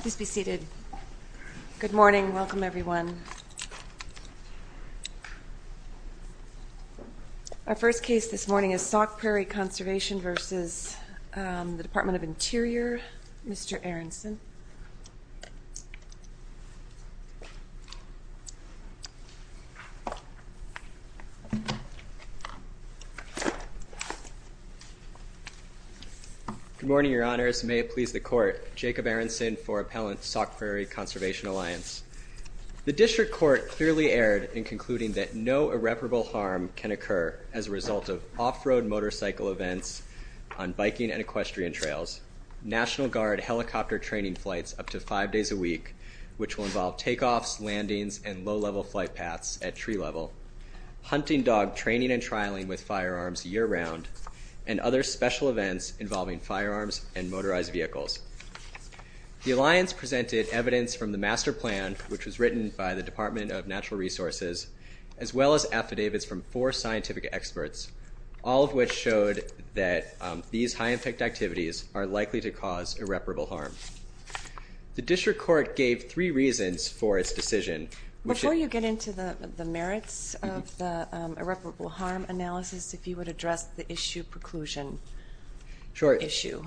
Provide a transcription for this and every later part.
Please be seated. Good morning. Welcome, everyone. Our first case this morning is Salk Prairie Conservation v. DOI. Mr. Aronson. Good morning, Your Honors. May it please the Court. Jacob Aronson for Appellant Salk Prairie Conservation Alliance. The District Court clearly erred in concluding that no irreparable harm can occur as a result of off-road motorcycle events on biking and equestrian trails, National Guard helicopter training flights up to five days a week, which will involve takeoffs, landings, and low-level flight paths at tree level, hunting dog training and trialing with firearms year-round, and other special events involving firearms and motorized vehicles. The Alliance presented evidence from the Master Resources, as well as affidavits from four scientific experts, all of which showed that these high-impact activities are likely to cause irreparable harm. The District Court gave three reasons for its decision. Before you get into the merits of the irreparable harm analysis, if you would address the issue preclusion issue.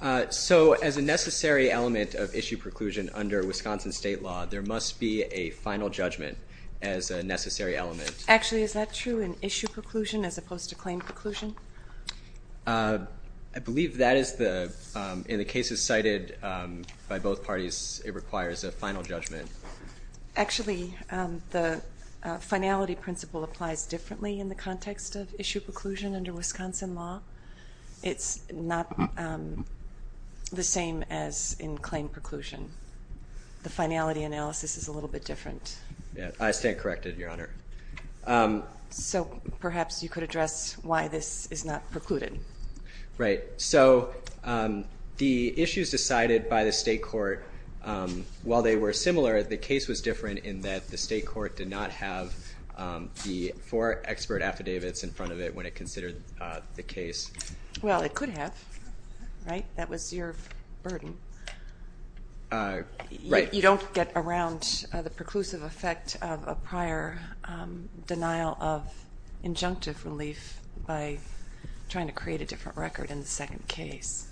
Sure. So as a necessary element of issue preclusion under Wisconsin state law, there must be a final judgment as a necessary element. Actually, is that true in issue preclusion as opposed to claim preclusion? I believe that is the, in the cases cited by both parties, it requires a final judgment. Actually, the finality principle applies differently in the context of issue preclusion, the same as in claim preclusion. The finality analysis is a little bit different. I stand corrected, Your Honor. So perhaps you could address why this is not precluded. So the issues decided by the state court, while they were similar, the case was different in that the state court did not have the four expert affidavits in front of it when it considered the case. Well, it could have, right? That was your burden. Right. You don't get around the preclusive effect of a prior denial of injunctive relief by trying to create a different record in the second case.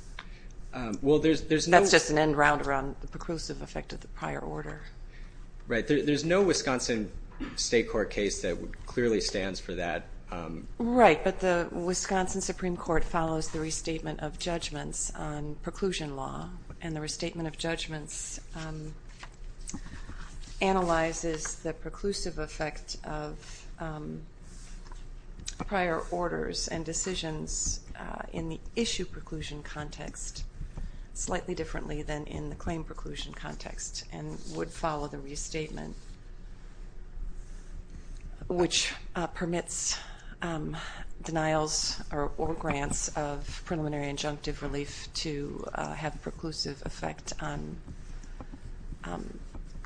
Well, there's no... That's just an end round around the preclusive effect of the prior order. Right. There's no Wisconsin state court case that clearly stands for that. Right, but the Wisconsin Supreme Court follows the restatement of judgments on preclusion law, and the restatement of judgments analyzes the preclusive effect of prior orders and decisions in the issue preclusion context slightly differently than in the claim preclusion context, and would follow the restatement, which permits denials or grants of preliminary injunctive relief to have a preclusive effect on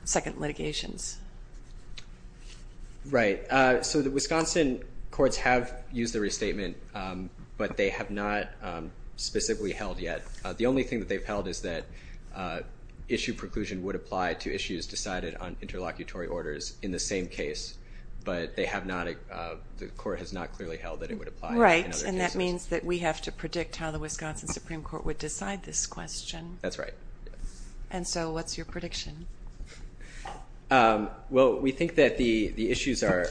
second litigations. Right. So the Wisconsin courts have used the restatement, but they have not specifically held yet. The only thing that they've held is that issue preclusion would apply to issues decided on interlocutory orders in the same case, but they have not... The court has not clearly held that it would apply in other cases. Right, and that means that we have to predict how the Wisconsin Supreme Court would decide this question. That's right. And so what's your prediction? Well, we think that the issues are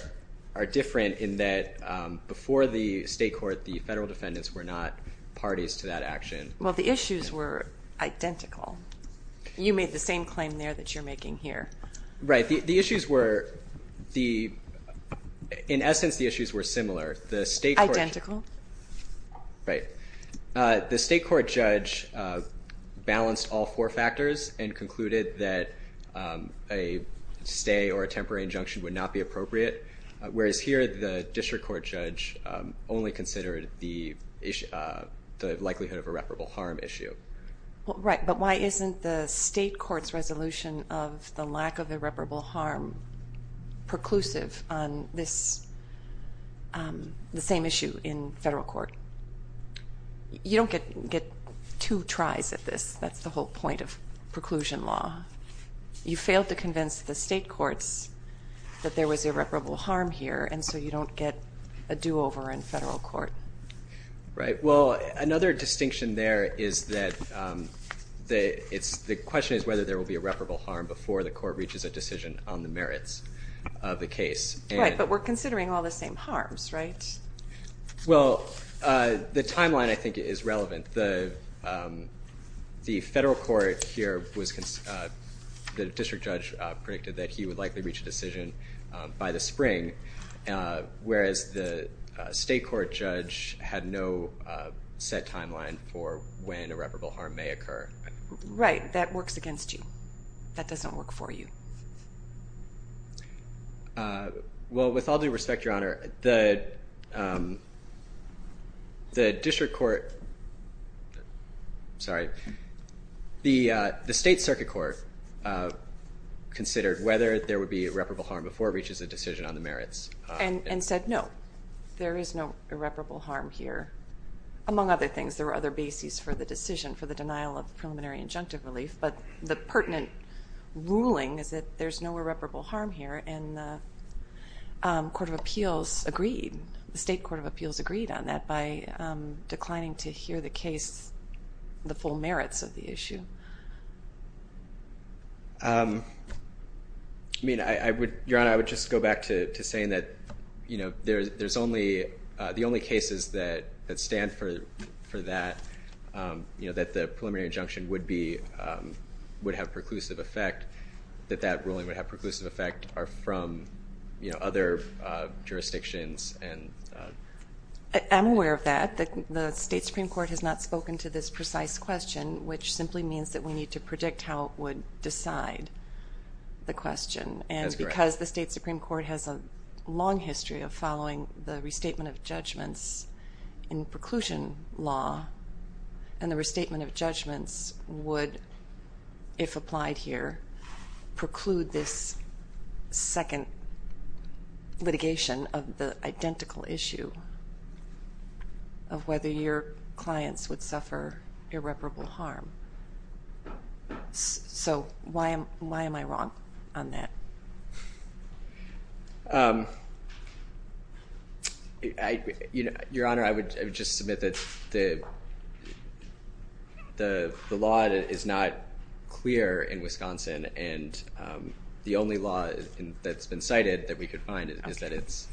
different in that before the state court, the federal defendants were not parties to that action. Well, the issues were identical. You made the same claim there that you're making here. Right. The issues were the... In essence, the issues were similar. The state court... Identical. Right. The state court judge balanced all four factors and concluded that a stay or a temporary injunction would not be appropriate, whereas here the district court judge only considered the likelihood of irreparable harm issue. Right, but why isn't the state court's resolution of the lack of irreparable harm preclusive on this... The same issue in federal court? You don't get two tries at this. That's the whole point of preclusion law. You failed to convince the state courts that there was irreparable harm here, and so you don't get a do-over in federal court. Right. Well, another distinction there is that the question is whether there will be irreparable harm before the court reaches a decision on the merits of the case. Right, but we're considering all the same harms, right? Well, the timeline, I think, is relevant. The federal court here was... The district judge predicted that he would likely reach a decision by the spring, whereas the state court judge had no set timeline for when irreparable harm may occur. Right. That works against you. That doesn't work for you. Well, with all due respect, Your Honor, the district court... The district court... Sorry. The state circuit court considered whether there would be irreparable harm before it reaches a decision on the merits. And said, no, there is no irreparable harm here. Among other things, there were other bases for the decision for the denial of preliminary injunctive relief, but the pertinent ruling is that there's no irreparable harm here, and the court of the district court did not hear the case, the full merits of the issue. I mean, Your Honor, I would just go back to saying that there's only... The only cases that stand for that, that the preliminary injunction would have preclusive effect, that that ruling would have preclusive effect, are from other jurisdictions. I'm aware of that. The state Supreme Court has not spoken to this precise question, which simply means that we need to predict how it would decide the question. That's correct. And because the state Supreme Court has a long history of following the restatement of judgments in preclusion law, and the restatement of judgments would, if applied here, preclude this second litigation of the identical issue of whether your clients would suffer irreparable harm. So why am I wrong on that? Your Honor, I would just submit that the law is not clear in Wisconsin, and the only law that's been cited that we could find is that it's...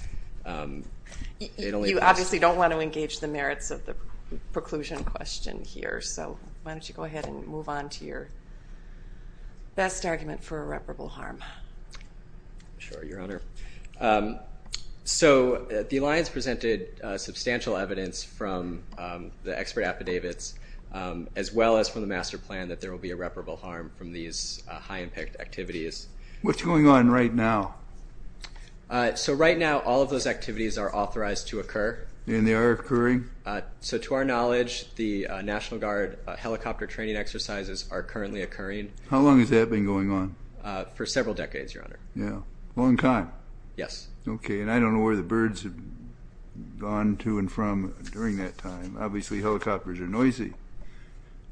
You obviously don't want to engage the merits of the preclusion question here, so why don't you go ahead and move on to your best argument for irreparable harm. Sure, Your Honor. So the alliance presented substantial evidence from the expert affidavits, as well as from the master plan, that there are some activities... What's going on right now? So right now, all of those activities are authorized to occur. And they are occurring? So to our knowledge, the National Guard helicopter training exercises are currently occurring. How long has that been going on? For several decades, Your Honor. Yeah. A long time. Yes. Okay, and I don't know where the birds have gone to and from during that time. Obviously, helicopters are noisy.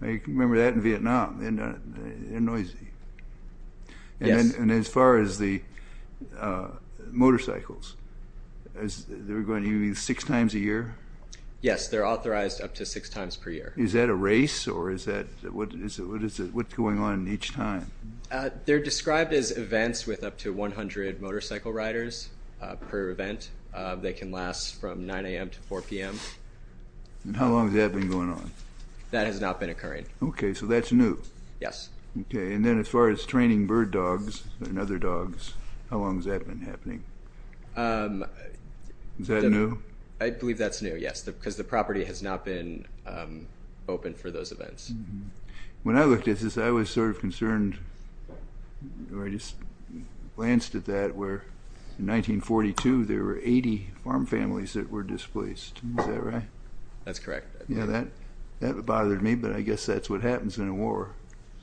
You can remember that in Vietnam. They're noisy. Yes. And as far as the motorcycles, they're going to be six times a year? Yes, they're authorized up to six times per year. Is that a race, or is that... What's going on each time? They're described as events with up to 100 motorcycle riders per event. They can last from 9 a.m. to 4 p.m. And how long has that been going on? That has not been occurring. Okay, so that's new? Yes. Okay, and then as far as training bird dogs and other dogs, how long has that been happening? Is that new? I believe that's new, yes, because the property has not been open for those events. When I looked at this, I was sort of concerned, or I just glanced at that, where in 1942, there were 80 farm families that were displaced. Is that right? That's correct. That bothered me, but I guess that's what happens in a war.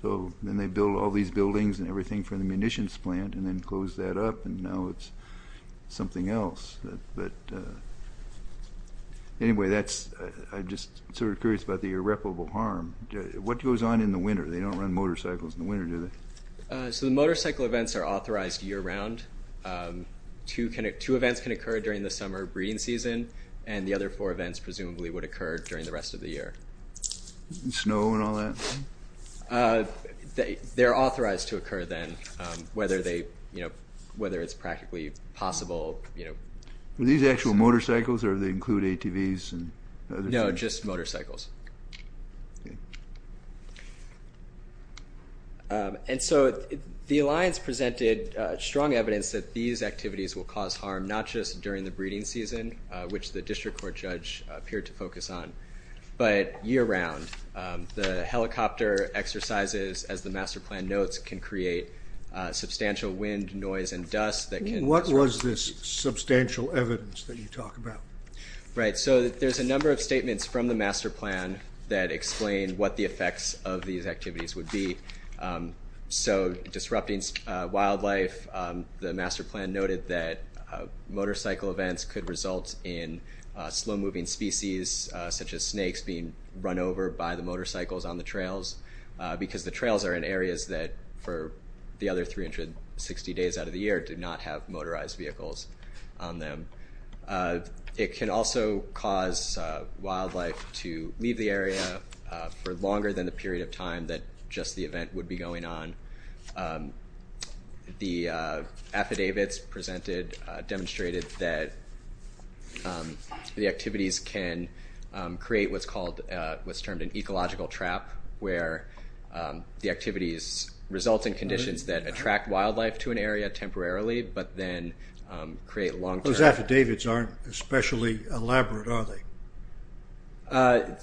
So then they build all these buildings and everything from the munitions plant, and then close that up, and now it's something else. But anyway, that's... I'm just sort of curious about the irreparable harm. What goes on in the winter? They don't run motorcycles in the winter, do they? So the motorcycle events are authorized year-round. Two events can occur during the summer breeding season, and the other four events presumably would occur during the rest of the year. Snow and all that? They're authorized to occur then, whether it's practically possible. Are these actual motorcycles, or do they include ATVs and other things? No, just motorcycles. And so the Alliance presented a number of strong evidence that these activities will cause harm, not just during the breeding season, which the district court judge appeared to focus on, but year-round. The helicopter exercises, as the master plan notes, can create substantial wind, noise, and dust that can... What was this substantial evidence that you talk about? Right, so there's a number of statements from the master plan that explain what the effects of these activities would be. So disrupting wildlife, the master plan noted that motorcycle events could result in slow-moving species, such as snakes, being run over by the motorcycles on the trails, because the trails are in areas that for the other 360 days out of the year do not have motorized vehicles on them. It can also cause wildlife to leave the area for longer than the period of time that just the event would be going on. The affidavits presented demonstrated that the activities can create what's called, what's termed an ecological trap, where the activities result in conditions that attract wildlife to an area temporarily, but then create long-term... Those affidavits aren't especially elaborate, are they?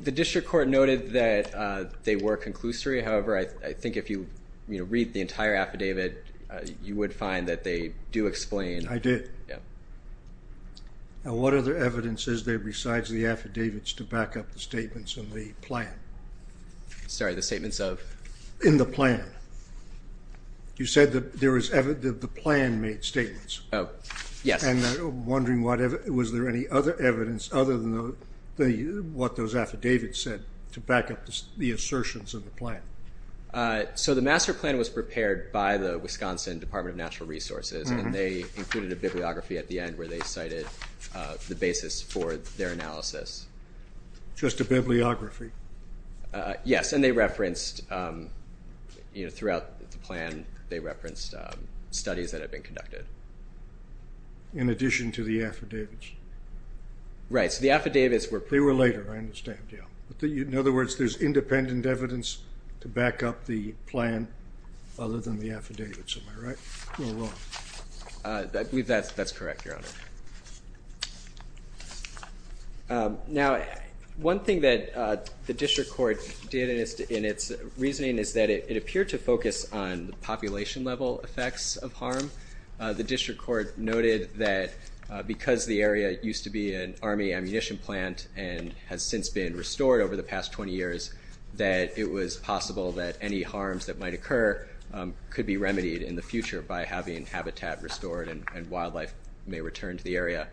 The district court noted that they were conclusory. However, I think if you read the entire affidavit, you would find that they do explain... I did. Yeah. Now, what other evidence is there besides the affidavits to back up the statements in the plan? Sorry, the statements of? In the plan. You said that the plan made statements. Oh, yes. I'm wondering, was there any other evidence other than what those affidavits said to back up the assertions of the plan? The master plan was prepared by the Wisconsin Department of Natural Resources, and they included a bibliography at the end where they cited the basis for their analysis. Just a bibliography? Yes, and they referenced throughout the plan, they referenced studies that have been conducted. In addition to the affidavits. Right, so the affidavits were... They were later, I understand, yeah. In other words, there's independent evidence to back up the plan other than the affidavits. Am I right, or wrong? I believe that's correct, Your Honor. Now, one thing that the district court did in its reasoning is that it appeared to focus on the population level effects of harm. The district court noted that because the area used to be an army ammunition plant and has since been restored over the past 20 years, that it was possible that any harms that might occur could be remedied in the future by having habitat restored and wildlife may return to the area.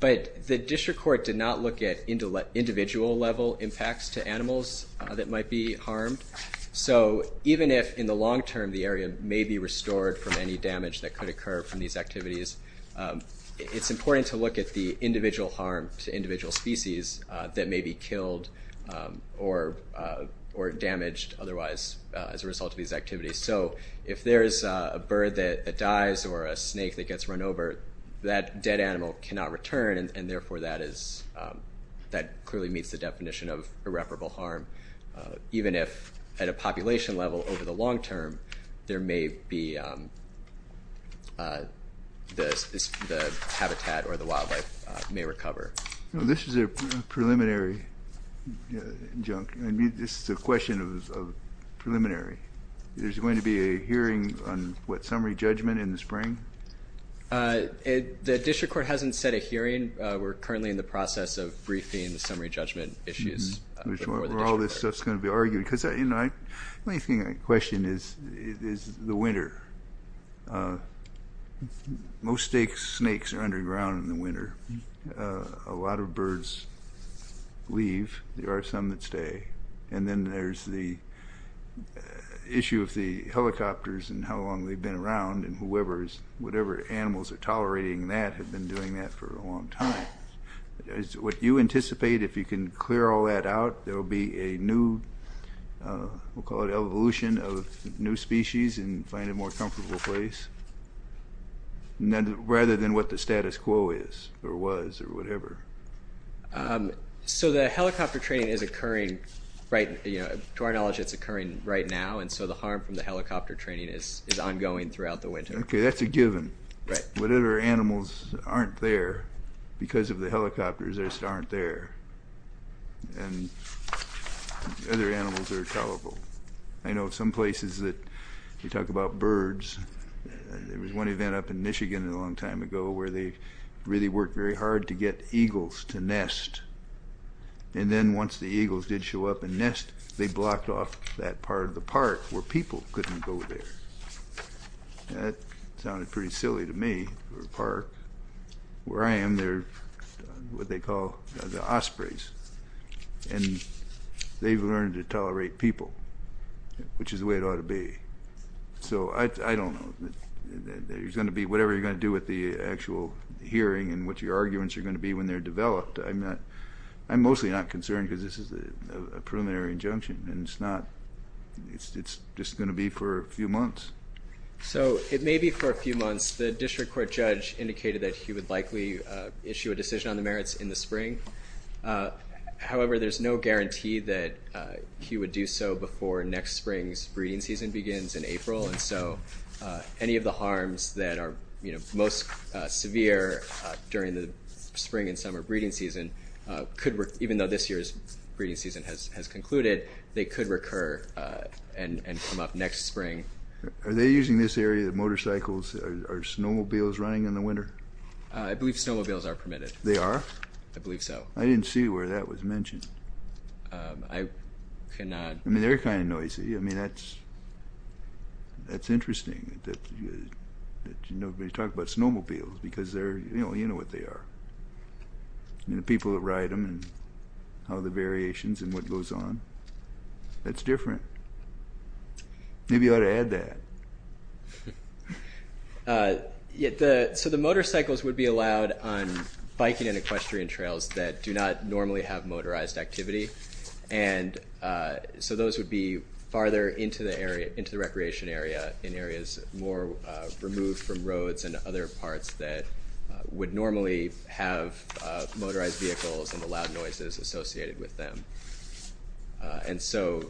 But the district court did not look at individual level impacts to animals that might be harmed. So even if in the long term the area may be restored from any damage that could occur from these activities, it's important to look at the individual harm to individual species that may be killed or damaged otherwise as a result of these activities. So if there is a bird that dies or a snake that gets run over, that dead animal cannot return and therefore that is, that clearly meets the definition of irreparable harm. Even if at a population level over the long term, there may be, the habitat or the wildlife may recover. This is a preliminary injunct. This is a question of preliminary. There's going to be a hearing on what summary judgment in the spring? The district court hasn't set a hearing. We're currently in the process of briefing the summary judgment issues before the district court. Where all this stuff is going to be argued. The only thing I question is the winter. Most snakes are underground in the winter. A lot of birds leave. There are some that stay. And then there's the issue of the helicopters and how long they've been around and whoever's, whatever animals are tolerating that have been doing that for a long time. Would you anticipate if you can clear all that out, there will be a new, we'll call it evolution of new species and find a more comfortable place? Rather than what the status quo is or was or whatever. So the helicopter training is occurring, to our knowledge it's occurring right now and so the harm from the helicopter training is ongoing throughout the winter. Okay, that's a given. Whatever animals aren't there because of the helicopters just aren't there. And other animals are tolerable. I know some places that we talk about birds. There was one event up in Michigan a long time ago where they really worked very hard to get eagles to nest. And then once the eagles did show up and nest, they blocked off that part of the park where people couldn't go there. That sounded pretty silly to me, a park. Where I am they're what they call the ospreys. And they've learned to tolerate people, which is the way it ought to be. So I don't know. There's going to be, whatever you're going to do with the actual hearing and what your arguments are going to be when they're developed, I'm mostly not concerned because this is a preliminary injunction. And it's just going to be for a few months. So it may be for a few months. The district court judge indicated that he would likely issue a decision on the merits in the spring. However, there's no guarantee that he would do so before next spring's breeding season begins in April. And so any of the harms that are most severe during the spring and summer breeding season could, even though this year's breeding season has concluded, they could recur and come up next spring. Are they using this area, the motorcycles, are snowmobiles running in the winter? I believe snowmobiles are permitted. They are? I believe so. I didn't see where that was mentioned. I cannot. I mean, they're kind of noisy. I mean, that's interesting that nobody talked about snowmobiles because you know what they are. I mean, the people that ride them and how the variations and what goes on, that's different. Maybe you ought to add that. So the motorcycles would be allowed on biking and equestrian trails that do not normally have motorized activity. And so those would be farther into the area, into the recreation area, in areas more removed from roads and other parts that would normally have motorized vehicles and the loud noises associated with them. And so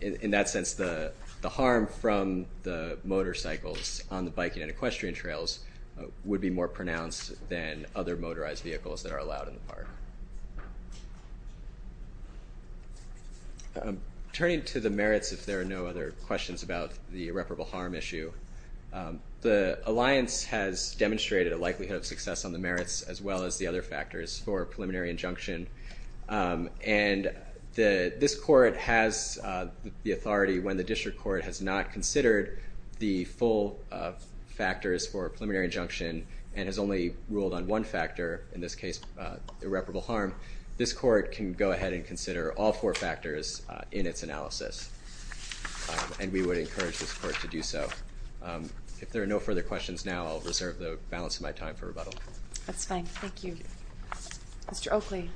in that sense, the harm from the motorcycles on the biking and equestrian trails would be more pronounced than other motorized vehicles that are allowed in the park. Turning to the merits, if there are no other questions about the irreparable harm issue, the alliance has demonstrated a likelihood of success on the merits as well as the other factors for a preliminary injunction. And this court has the authority when the district court has not considered the full factors for a preliminary injunction and has only ruled on one factor, in this case irreparable harm, this court can go ahead and consider all four factors in its analysis. And we would encourage this court to do so. If there are no further questions now, I'll reserve the balance of my time for rebuttal. That's fine. Thank you. Mr. Oakley.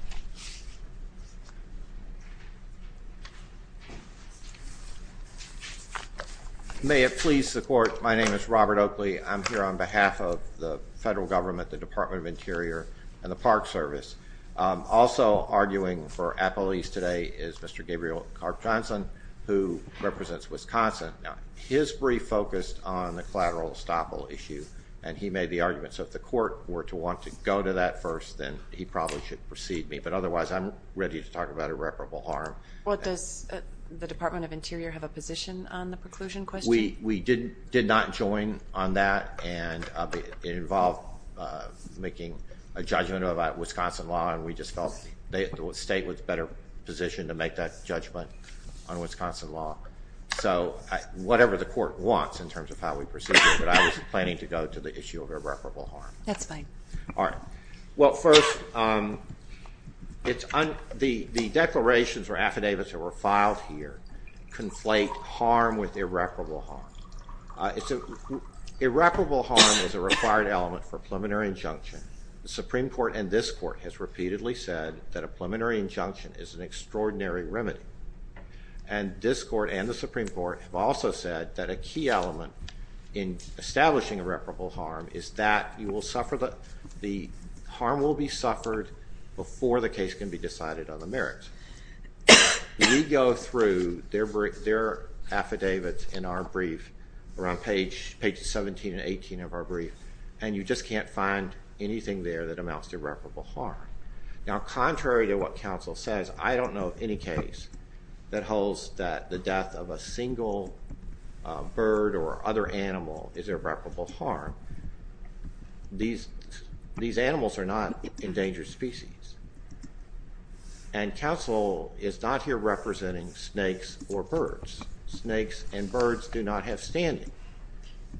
May it please the court. My name is Robert Oakley. I'm here on behalf of the federal government, the Department of Interior, and the Park Service. Also arguing for appellees today is Mr. Gabriel Karp Johnson, who represents Wisconsin. Now, his brief focused on the collateral estoppel issue, and he made the argument. So if the court were to want to go to that first, then he probably should precede me. But otherwise, I'm ready to talk about irreparable harm. Well, does the Department of Interior have a position on the preclusion question? We did not join on that, and it involved making a judgment about Wisconsin law, and we just felt the state was better positioned to make that judgment on Wisconsin law. So whatever the court wants in terms of how we proceed, but I was planning to go to the issue of irreparable harm. That's fine. All right. Well, first, the declarations or affidavits that were filed here conflate harm with irreparable harm. Irreparable harm is a required element for a preliminary injunction. The Supreme Court and this court has repeatedly said that a preliminary injunction is an extraordinary remedy. And this court and the Supreme Court have also said that a key element in establishing irreparable harm is that the harm will be suffered before the case can be decided on the merits. We go through their affidavits in our brief around pages 17 and 18 of our brief, and you just can't find anything there that amounts to irreparable harm. Now, contrary to what counsel says, I don't know of any case that holds that the death of a single bird or other animal is irreparable harm. These animals are not endangered species. And counsel is not here representing snakes or birds. Snakes and birds do not have standing.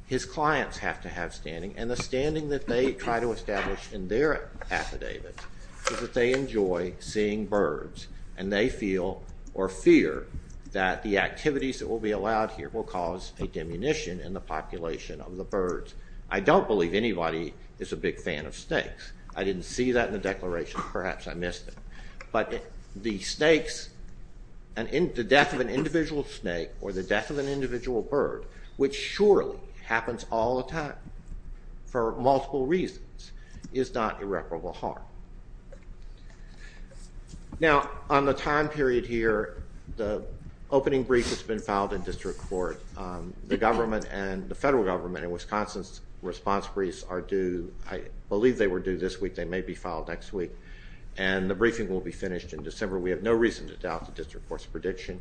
His clients have to have standing, and the standing that they try to establish in their affidavits is that they enjoy seeing birds and they feel or fear that the activities that will be allowed here will cause a diminution in the population of the birds. I don't believe anybody is a big fan of snakes. I didn't see that in the declaration. Perhaps I missed it. But the snakes, the death of an individual snake or the death of an individual bird, which surely happens all the time for multiple reasons, is not irreparable harm. Now, on the time period here, the opening brief has been filed in district court. The government and the federal government in Wisconsin's response briefs are due, I believe they were due this week, they may be filed next week, and the briefing will be finished in December. We have no reason to doubt the district court's prediction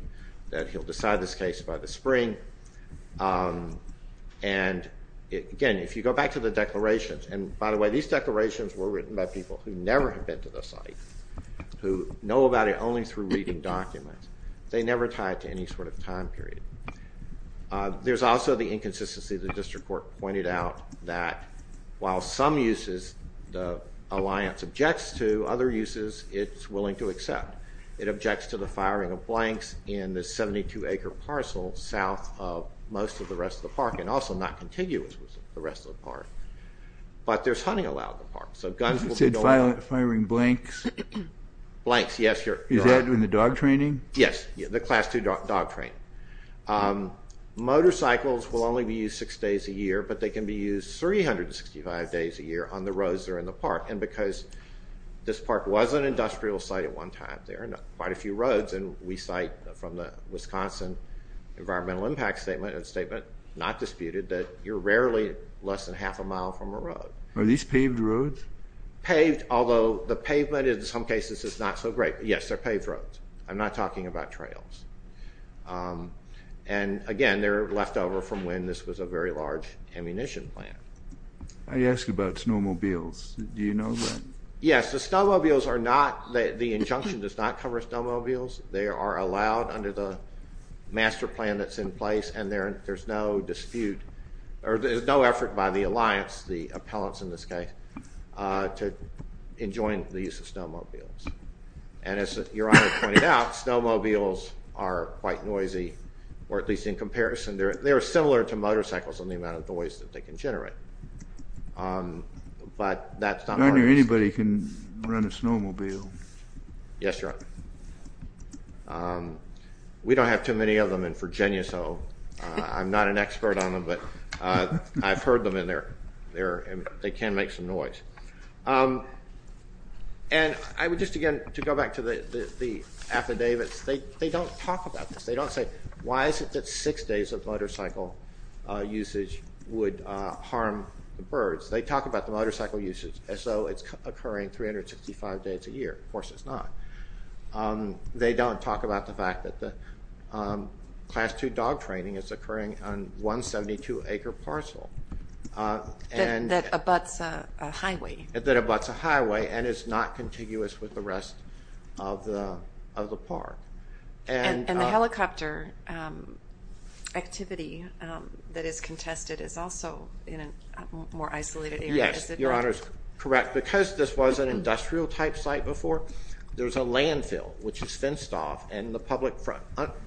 that he'll decide this case by the spring. And again, if you go back to the declarations, and by the way, these declarations were written by people who never have been to the site, who know about it only through reading documents. They never tied to any sort of time period. There's also the inconsistency. The district court pointed out that while some uses the alliance objects to, other uses it's willing to accept. It objects to the firing of blanks in the 72-acre parcel south of most of the rest of the park, and also not contiguous with the rest of the park. But there's hunting allowed in the park, so guns will be... You said firing blanks? Blanks, yes. Is that in the dog training? Yes, the class two dog training. Motorcycles will only be used six days a year, but they can be used 365 days a year on the roads that are in the park, and because this park was an industrial site at one time, there are quite a few roads, and we cite from the Wisconsin Environmental Impact Statement, a statement not disputed, that you're rarely less than half a mile from a road. Are these paved roads? Paved, although the pavement in some cases is not so great. Yes, they're paved roads. I'm not talking about trails. And again, they're left over from when this was a very large ammunition plant. I asked about snowmobiles. Do you know that? Yes, the snowmobiles are not... The injunction does not cover snowmobiles. They are allowed under the master plan that's in place, and there's no dispute, or there's no effort by the alliance, the appellants in this case, to enjoin the use of snowmobiles. And as Your Honor pointed out, snowmobiles are quite noisy, or at least in comparison. They are similar to motorcycles in the amount of noise that they can generate. Your Honor, anybody can run a snowmobile. Yes, Your Honor. We don't have too many of them in Virginia, so I'm not an expert on them, but I've heard them, and they can make some noise. And I would just, again, to go back to the affidavits, they don't talk about this. They don't say, why is it that six days of motorcycle usage would harm the birds? They talk about the motorcycle usage as though it's occurring 365 days a year. Of course it's not. They don't talk about the fact that the Class 2 dog training is occurring on 172-acre parcel. That abuts a highway. That abuts a highway and is not contiguous with the rest of the park. And the helicopter activity that is contested is also in a more isolated area. Yes, Your Honor is correct. Because this was an industrial-type site before, there's a landfill which is fenced off, and the public, for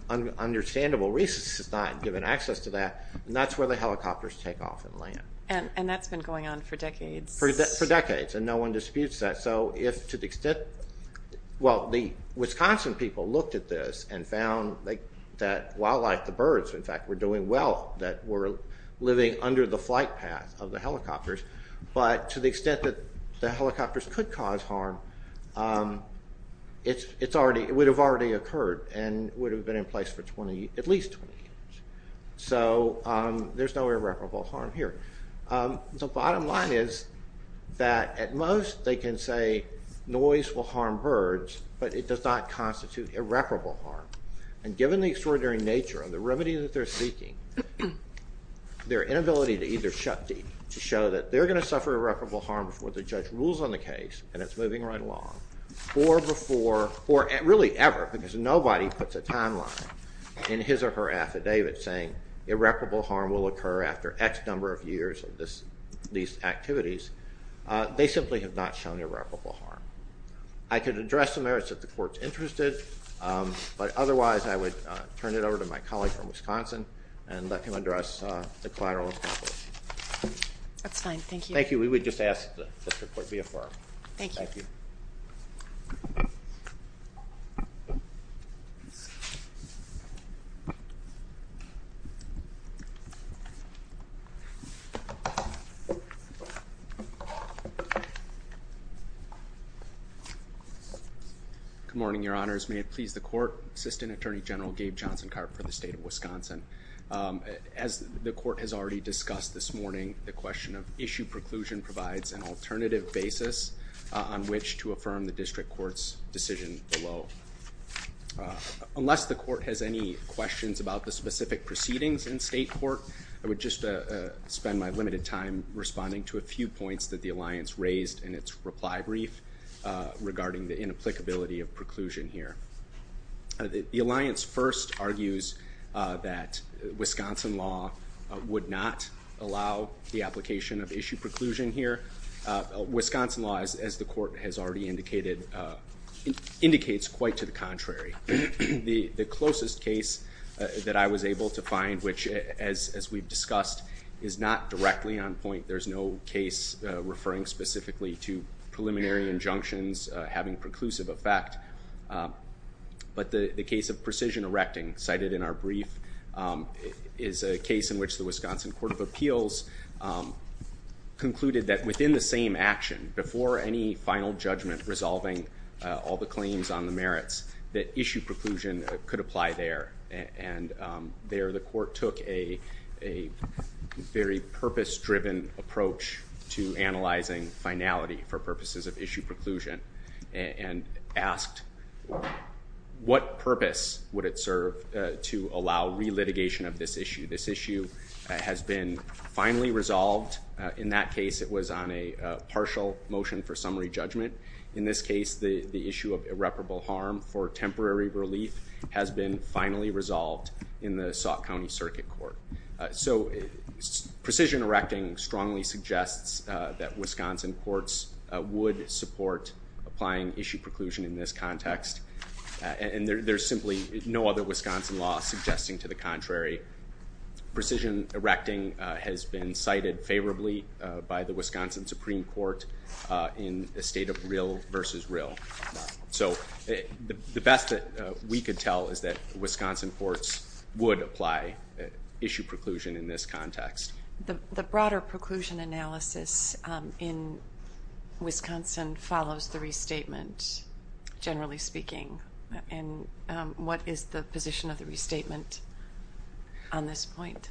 understandable reasons, is not given access to that, and that's where the helicopters take off and land. And that's been going on for decades. For decades, and no one disputes that. So if, to the extent, well, the Wisconsin people looked at this and found that wildlife, the birds, in fact, were doing well, that were living under the flight path of the helicopters, but to the extent that the helicopters could cause harm, it would have already occurred and would have been in place for at least 20 years. So there's no irreparable harm here. The bottom line is that at most they can say noise will harm birds, but it does not constitute irreparable harm. And given the extraordinary nature and the remedy that they're seeking, their inability to either shut deep to show that they're going to suffer irreparable harm before the judge rules on the case, and it's moving right along, or before, or really ever, because nobody puts a timeline in his or her affidavit saying irreparable harm will occur after X number of years of these activities. They simply have not shown irreparable harm. I could address the merits if the Court's interested, but otherwise I would turn it over to my colleague from Wisconsin and let him address the collateral. That's fine. Thank you. Thank you. We would just ask that the Court be affirmed. Thank you. Good morning, Your Honors. May it please the Court, Assistant Attorney General Gabe Johnson Karp for the State of Wisconsin. As the Court has already discussed this morning, the question of issue preclusion provides an alternative basis on which to affirm the District Court's decision below. Unless the Court has any questions about the specific proceedings in state court, I would just spend my limited time responding to a few points that the Alliance raised in its reply brief regarding the inapplicability of preclusion here. The Alliance first argues that Wisconsin law would not allow the application of issue preclusion here. Wisconsin law, as the Court has already indicated, indicates quite to the contrary. The closest case that I was able to find, which as we've discussed, is not directly on point. There's no case referring specifically to preliminary injunctions having preclusive effect. But the case of precision erecting, cited in our brief, is a case in which the Wisconsin Court of Appeals concluded that within the same action, before any final judgment resolving all the claims on the merits, that issue preclusion could apply there. There, the Court took a very purpose-driven approach to analyzing finality for purposes of issue preclusion and asked what purpose would it serve to allow re-litigation of this issue. This issue has been finally resolved. In that case, it was on a partial motion for summary judgment. In this case, the issue of irreparable harm for temporary relief has been finally resolved in the Sauk County Circuit Court. So precision erecting strongly suggests that Wisconsin courts would support applying issue preclusion in this context. And there's simply no other Wisconsin law suggesting to the contrary. Precision erecting has been cited favorably by the Wisconsin Supreme Court in a state of real versus real. So the best that we could tell is that Wisconsin courts would apply issue preclusion in this context. The broader preclusion analysis in Wisconsin follows the restatement, generally speaking. And what is the position of the restatement on this point?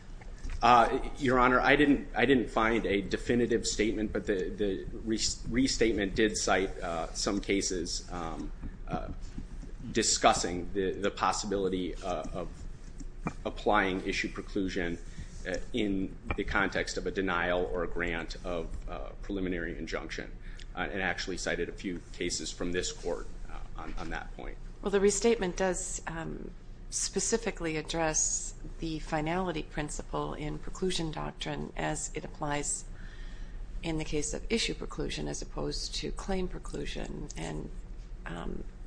Your Honor, I didn't find a definitive statement, but the restatement did cite some cases discussing the possibility of applying issue preclusion in the context of a denial or a grant of preliminary injunction. It actually cited a few cases from this court on that point. Well, the restatement does specifically address the finality principle in preclusion doctrine as it applies in the case of issue preclusion as opposed to claim preclusion and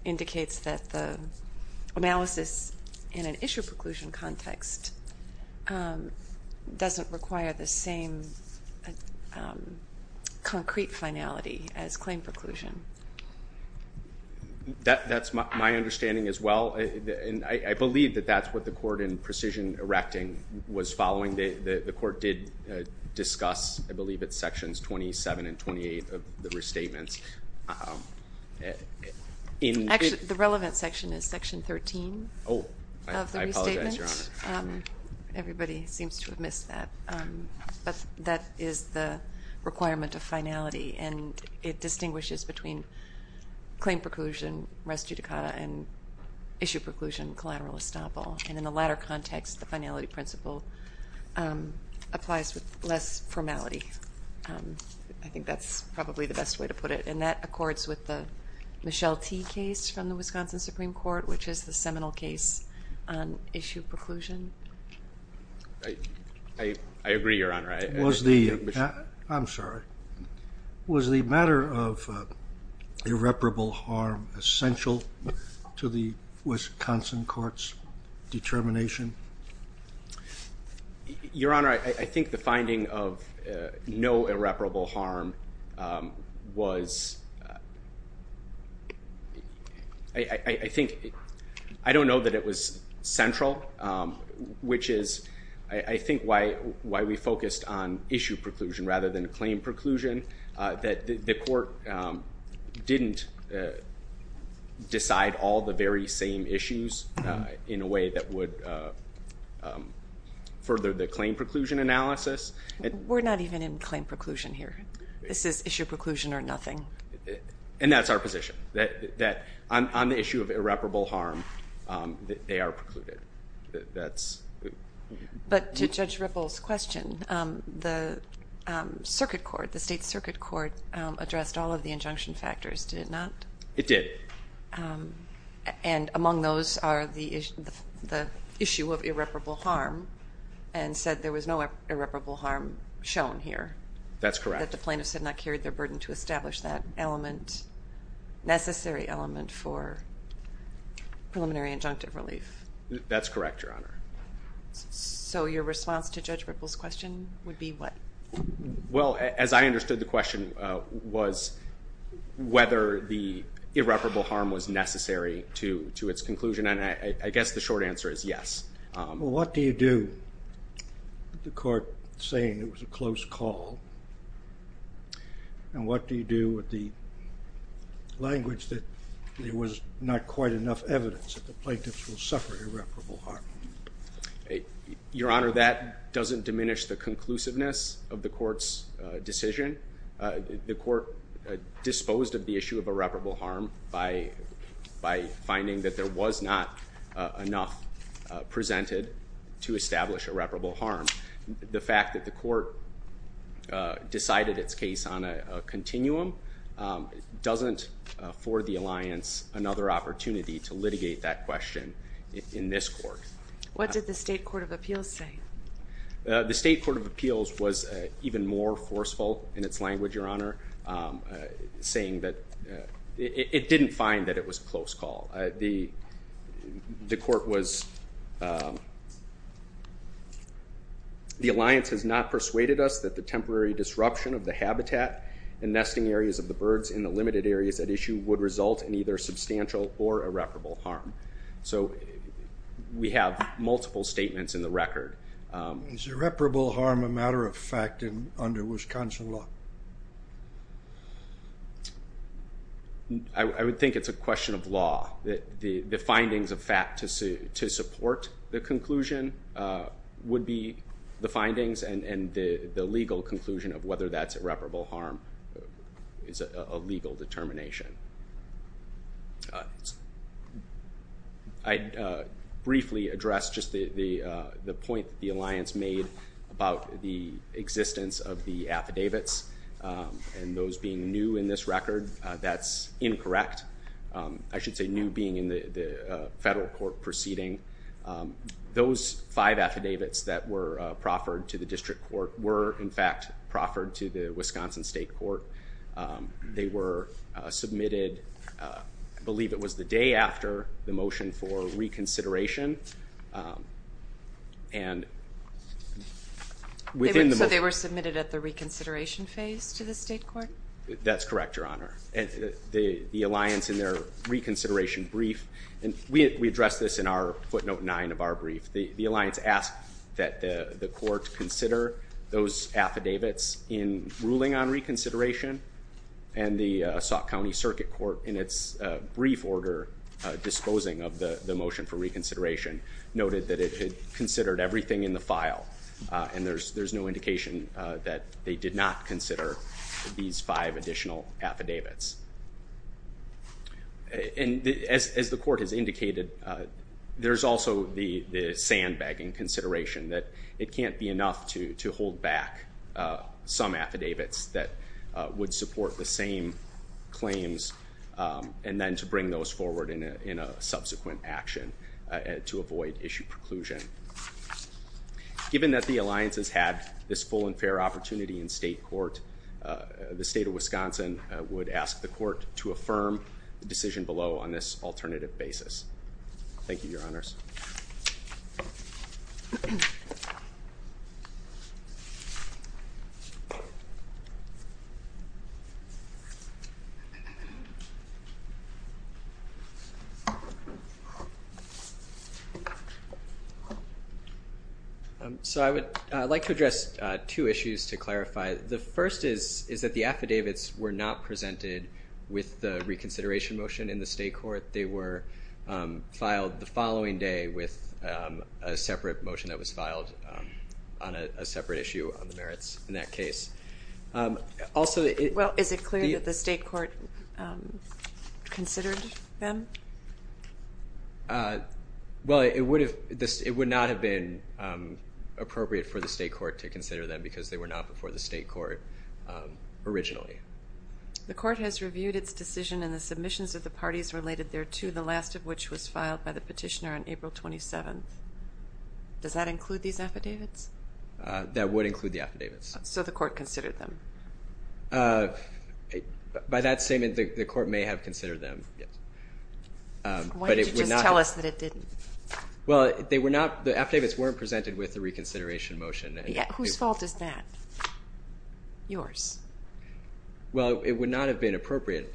indicates that the analysis in an issue preclusion context doesn't require the same concrete finality as claim preclusion. That's my understanding as well. And I believe that that's what the court in precision erecting was following. The court did discuss, I believe it's Sections 27 and 28 of the restatements. Actually, the relevant section is Section 13 of the restatement. Oh, I apologize, Your Honor. Everybody seems to have missed that. But that is the requirement of finality, and it distinguishes between claim preclusion res judicata and issue preclusion collateral estoppel. And in the latter context, the finality principle applies with less formality. I think that's probably the best way to put it. And that accords with the Michelle T. case from the Wisconsin Supreme Court, which is the seminal case on issue preclusion. I agree, Your Honor. I'm sorry. Was the matter of irreparable harm essential to the Wisconsin court's determination? Your Honor, I think the finding of no irreparable harm was, I don't know that it was central, which is, I think, why we focused on issue preclusion rather than claim preclusion, that the court didn't decide all the very same issues in a way that would further the claim preclusion analysis. We're not even in claim preclusion here. This is issue preclusion or nothing. And that's our position, that on the issue of irreparable harm, they are precluded. But to Judge Ripple's question, the circuit court, the state circuit court, addressed all of the injunction factors, did it not? It did. And among those are the issue of irreparable harm and said there was no irreparable harm shown here. That's correct. And that the plaintiffs had not carried their burden to establish that element, necessary element for preliminary injunctive relief. That's correct, Your Honor. So your response to Judge Ripple's question would be what? Well, as I understood the question was whether the irreparable harm was necessary to its conclusion. And I guess the short answer is yes. Well, what do you do with the court saying it was a close call? And what do you do with the language that there was not quite enough evidence that the plaintiffs will suffer irreparable harm? Your Honor, that doesn't diminish the conclusiveness of the court's decision. The court disposed of the issue of irreparable harm by finding that there was not enough presented to establish irreparable harm. The fact that the court decided its case on a continuum doesn't afford the alliance another opportunity to litigate that question in this court. What did the state court of appeals say? The state court of appeals was even more forceful in its language, Your Honor, saying that it didn't find that it was a close call. The court was, the alliance has not persuaded us that the temporary disruption of the habitat and nesting areas of the birds in the limited areas at issue would result in either substantial or irreparable harm. So we have multiple statements in the record. Is irreparable harm a matter of fact under Wisconsin law? I would think it's a question of law. The findings of fact to support the conclusion would be the findings and the legal conclusion of whether that's irreparable harm is a legal determination. I'd briefly address just the point the alliance made about the existence of the affidavits. And those being new in this record, that's incorrect. I should say new being in the federal court proceeding. Those five affidavits that were proffered to the district court were in fact proffered to the Wisconsin state court. They were submitted, I believe it was the day after the motion for reconsideration. So they were submitted at the reconsideration phase to the state court? That's correct, Your Honor. The alliance in their reconsideration brief, and we addressed this in our footnote nine of our brief, the alliance asked that the court consider those affidavits in ruling on reconsideration. And the Sauk County Circuit Court, in its brief order disposing of the motion for reconsideration, noted that it had considered everything in the file. And there's no indication that they did not consider these five additional affidavits. And as the court has indicated, there's also the sandbagging consideration that it can't be enough to hold back some affidavits that would support the same claims and then to bring those forward in a subsequent action to avoid issue preclusion. Given that the alliance has had this full and fair opportunity in state court, the state of Wisconsin would ask the court to affirm the decision below on this alternative basis. So I would like to address two issues to clarify. The first is that the affidavits were not presented with the reconsideration motion in the state court. They were filed the following day with a separate motion that was filed on a separate issue on the merits in that case. Also... Well, is it clear that the state court considered them? Well, it would not have been appropriate for the state court to consider them because they were not before the state court originally. The court has reviewed its decision and the submissions of the parties related thereto, the last of which was filed by the petitioner on April 27th. Does that include these affidavits? That would include the affidavits. So the court considered them? By that statement, the court may have considered them, yes. Why didn't you just tell us that it didn't? Well, they were not...the affidavits weren't presented with the reconsideration motion. Whose fault is that? Yours. Well, it would not have been appropriate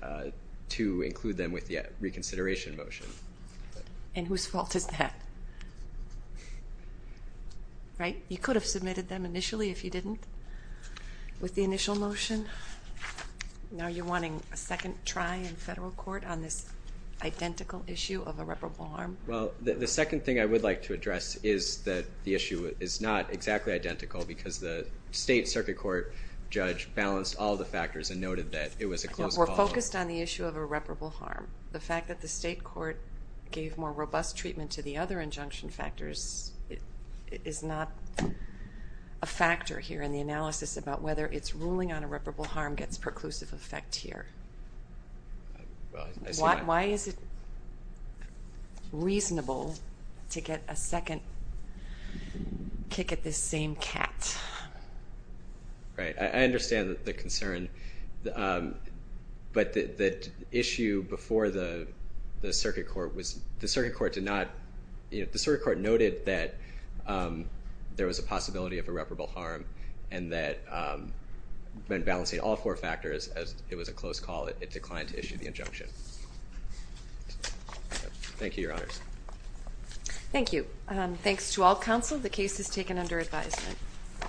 to include them with the reconsideration motion. And whose fault is that? You could have submitted them initially if you didn't with the initial motion. Now you're wanting a second try in federal court on this identical issue of irreparable harm? Well, the second thing I would like to address is that the issue is not exactly identical because the state circuit court judge balanced all the factors and noted that it was a close call. We're focused on the issue of irreparable harm. The fact that the state court gave more robust treatment to the other injunction factors is not a factor here in the analysis about whether its ruling on irreparable harm gets perclusive effect here. Why is it reasonable to get a second kick at this same cat? Right. I understand the concern. But the issue before the circuit court was the circuit court did not... the circuit court noted that there was a possibility of irreparable harm and that balancing all four factors as it was a close call, it declined to issue the injunction. Thank you, Your Honors. Thank you. Thanks to all counsel. The case is taken under advisement.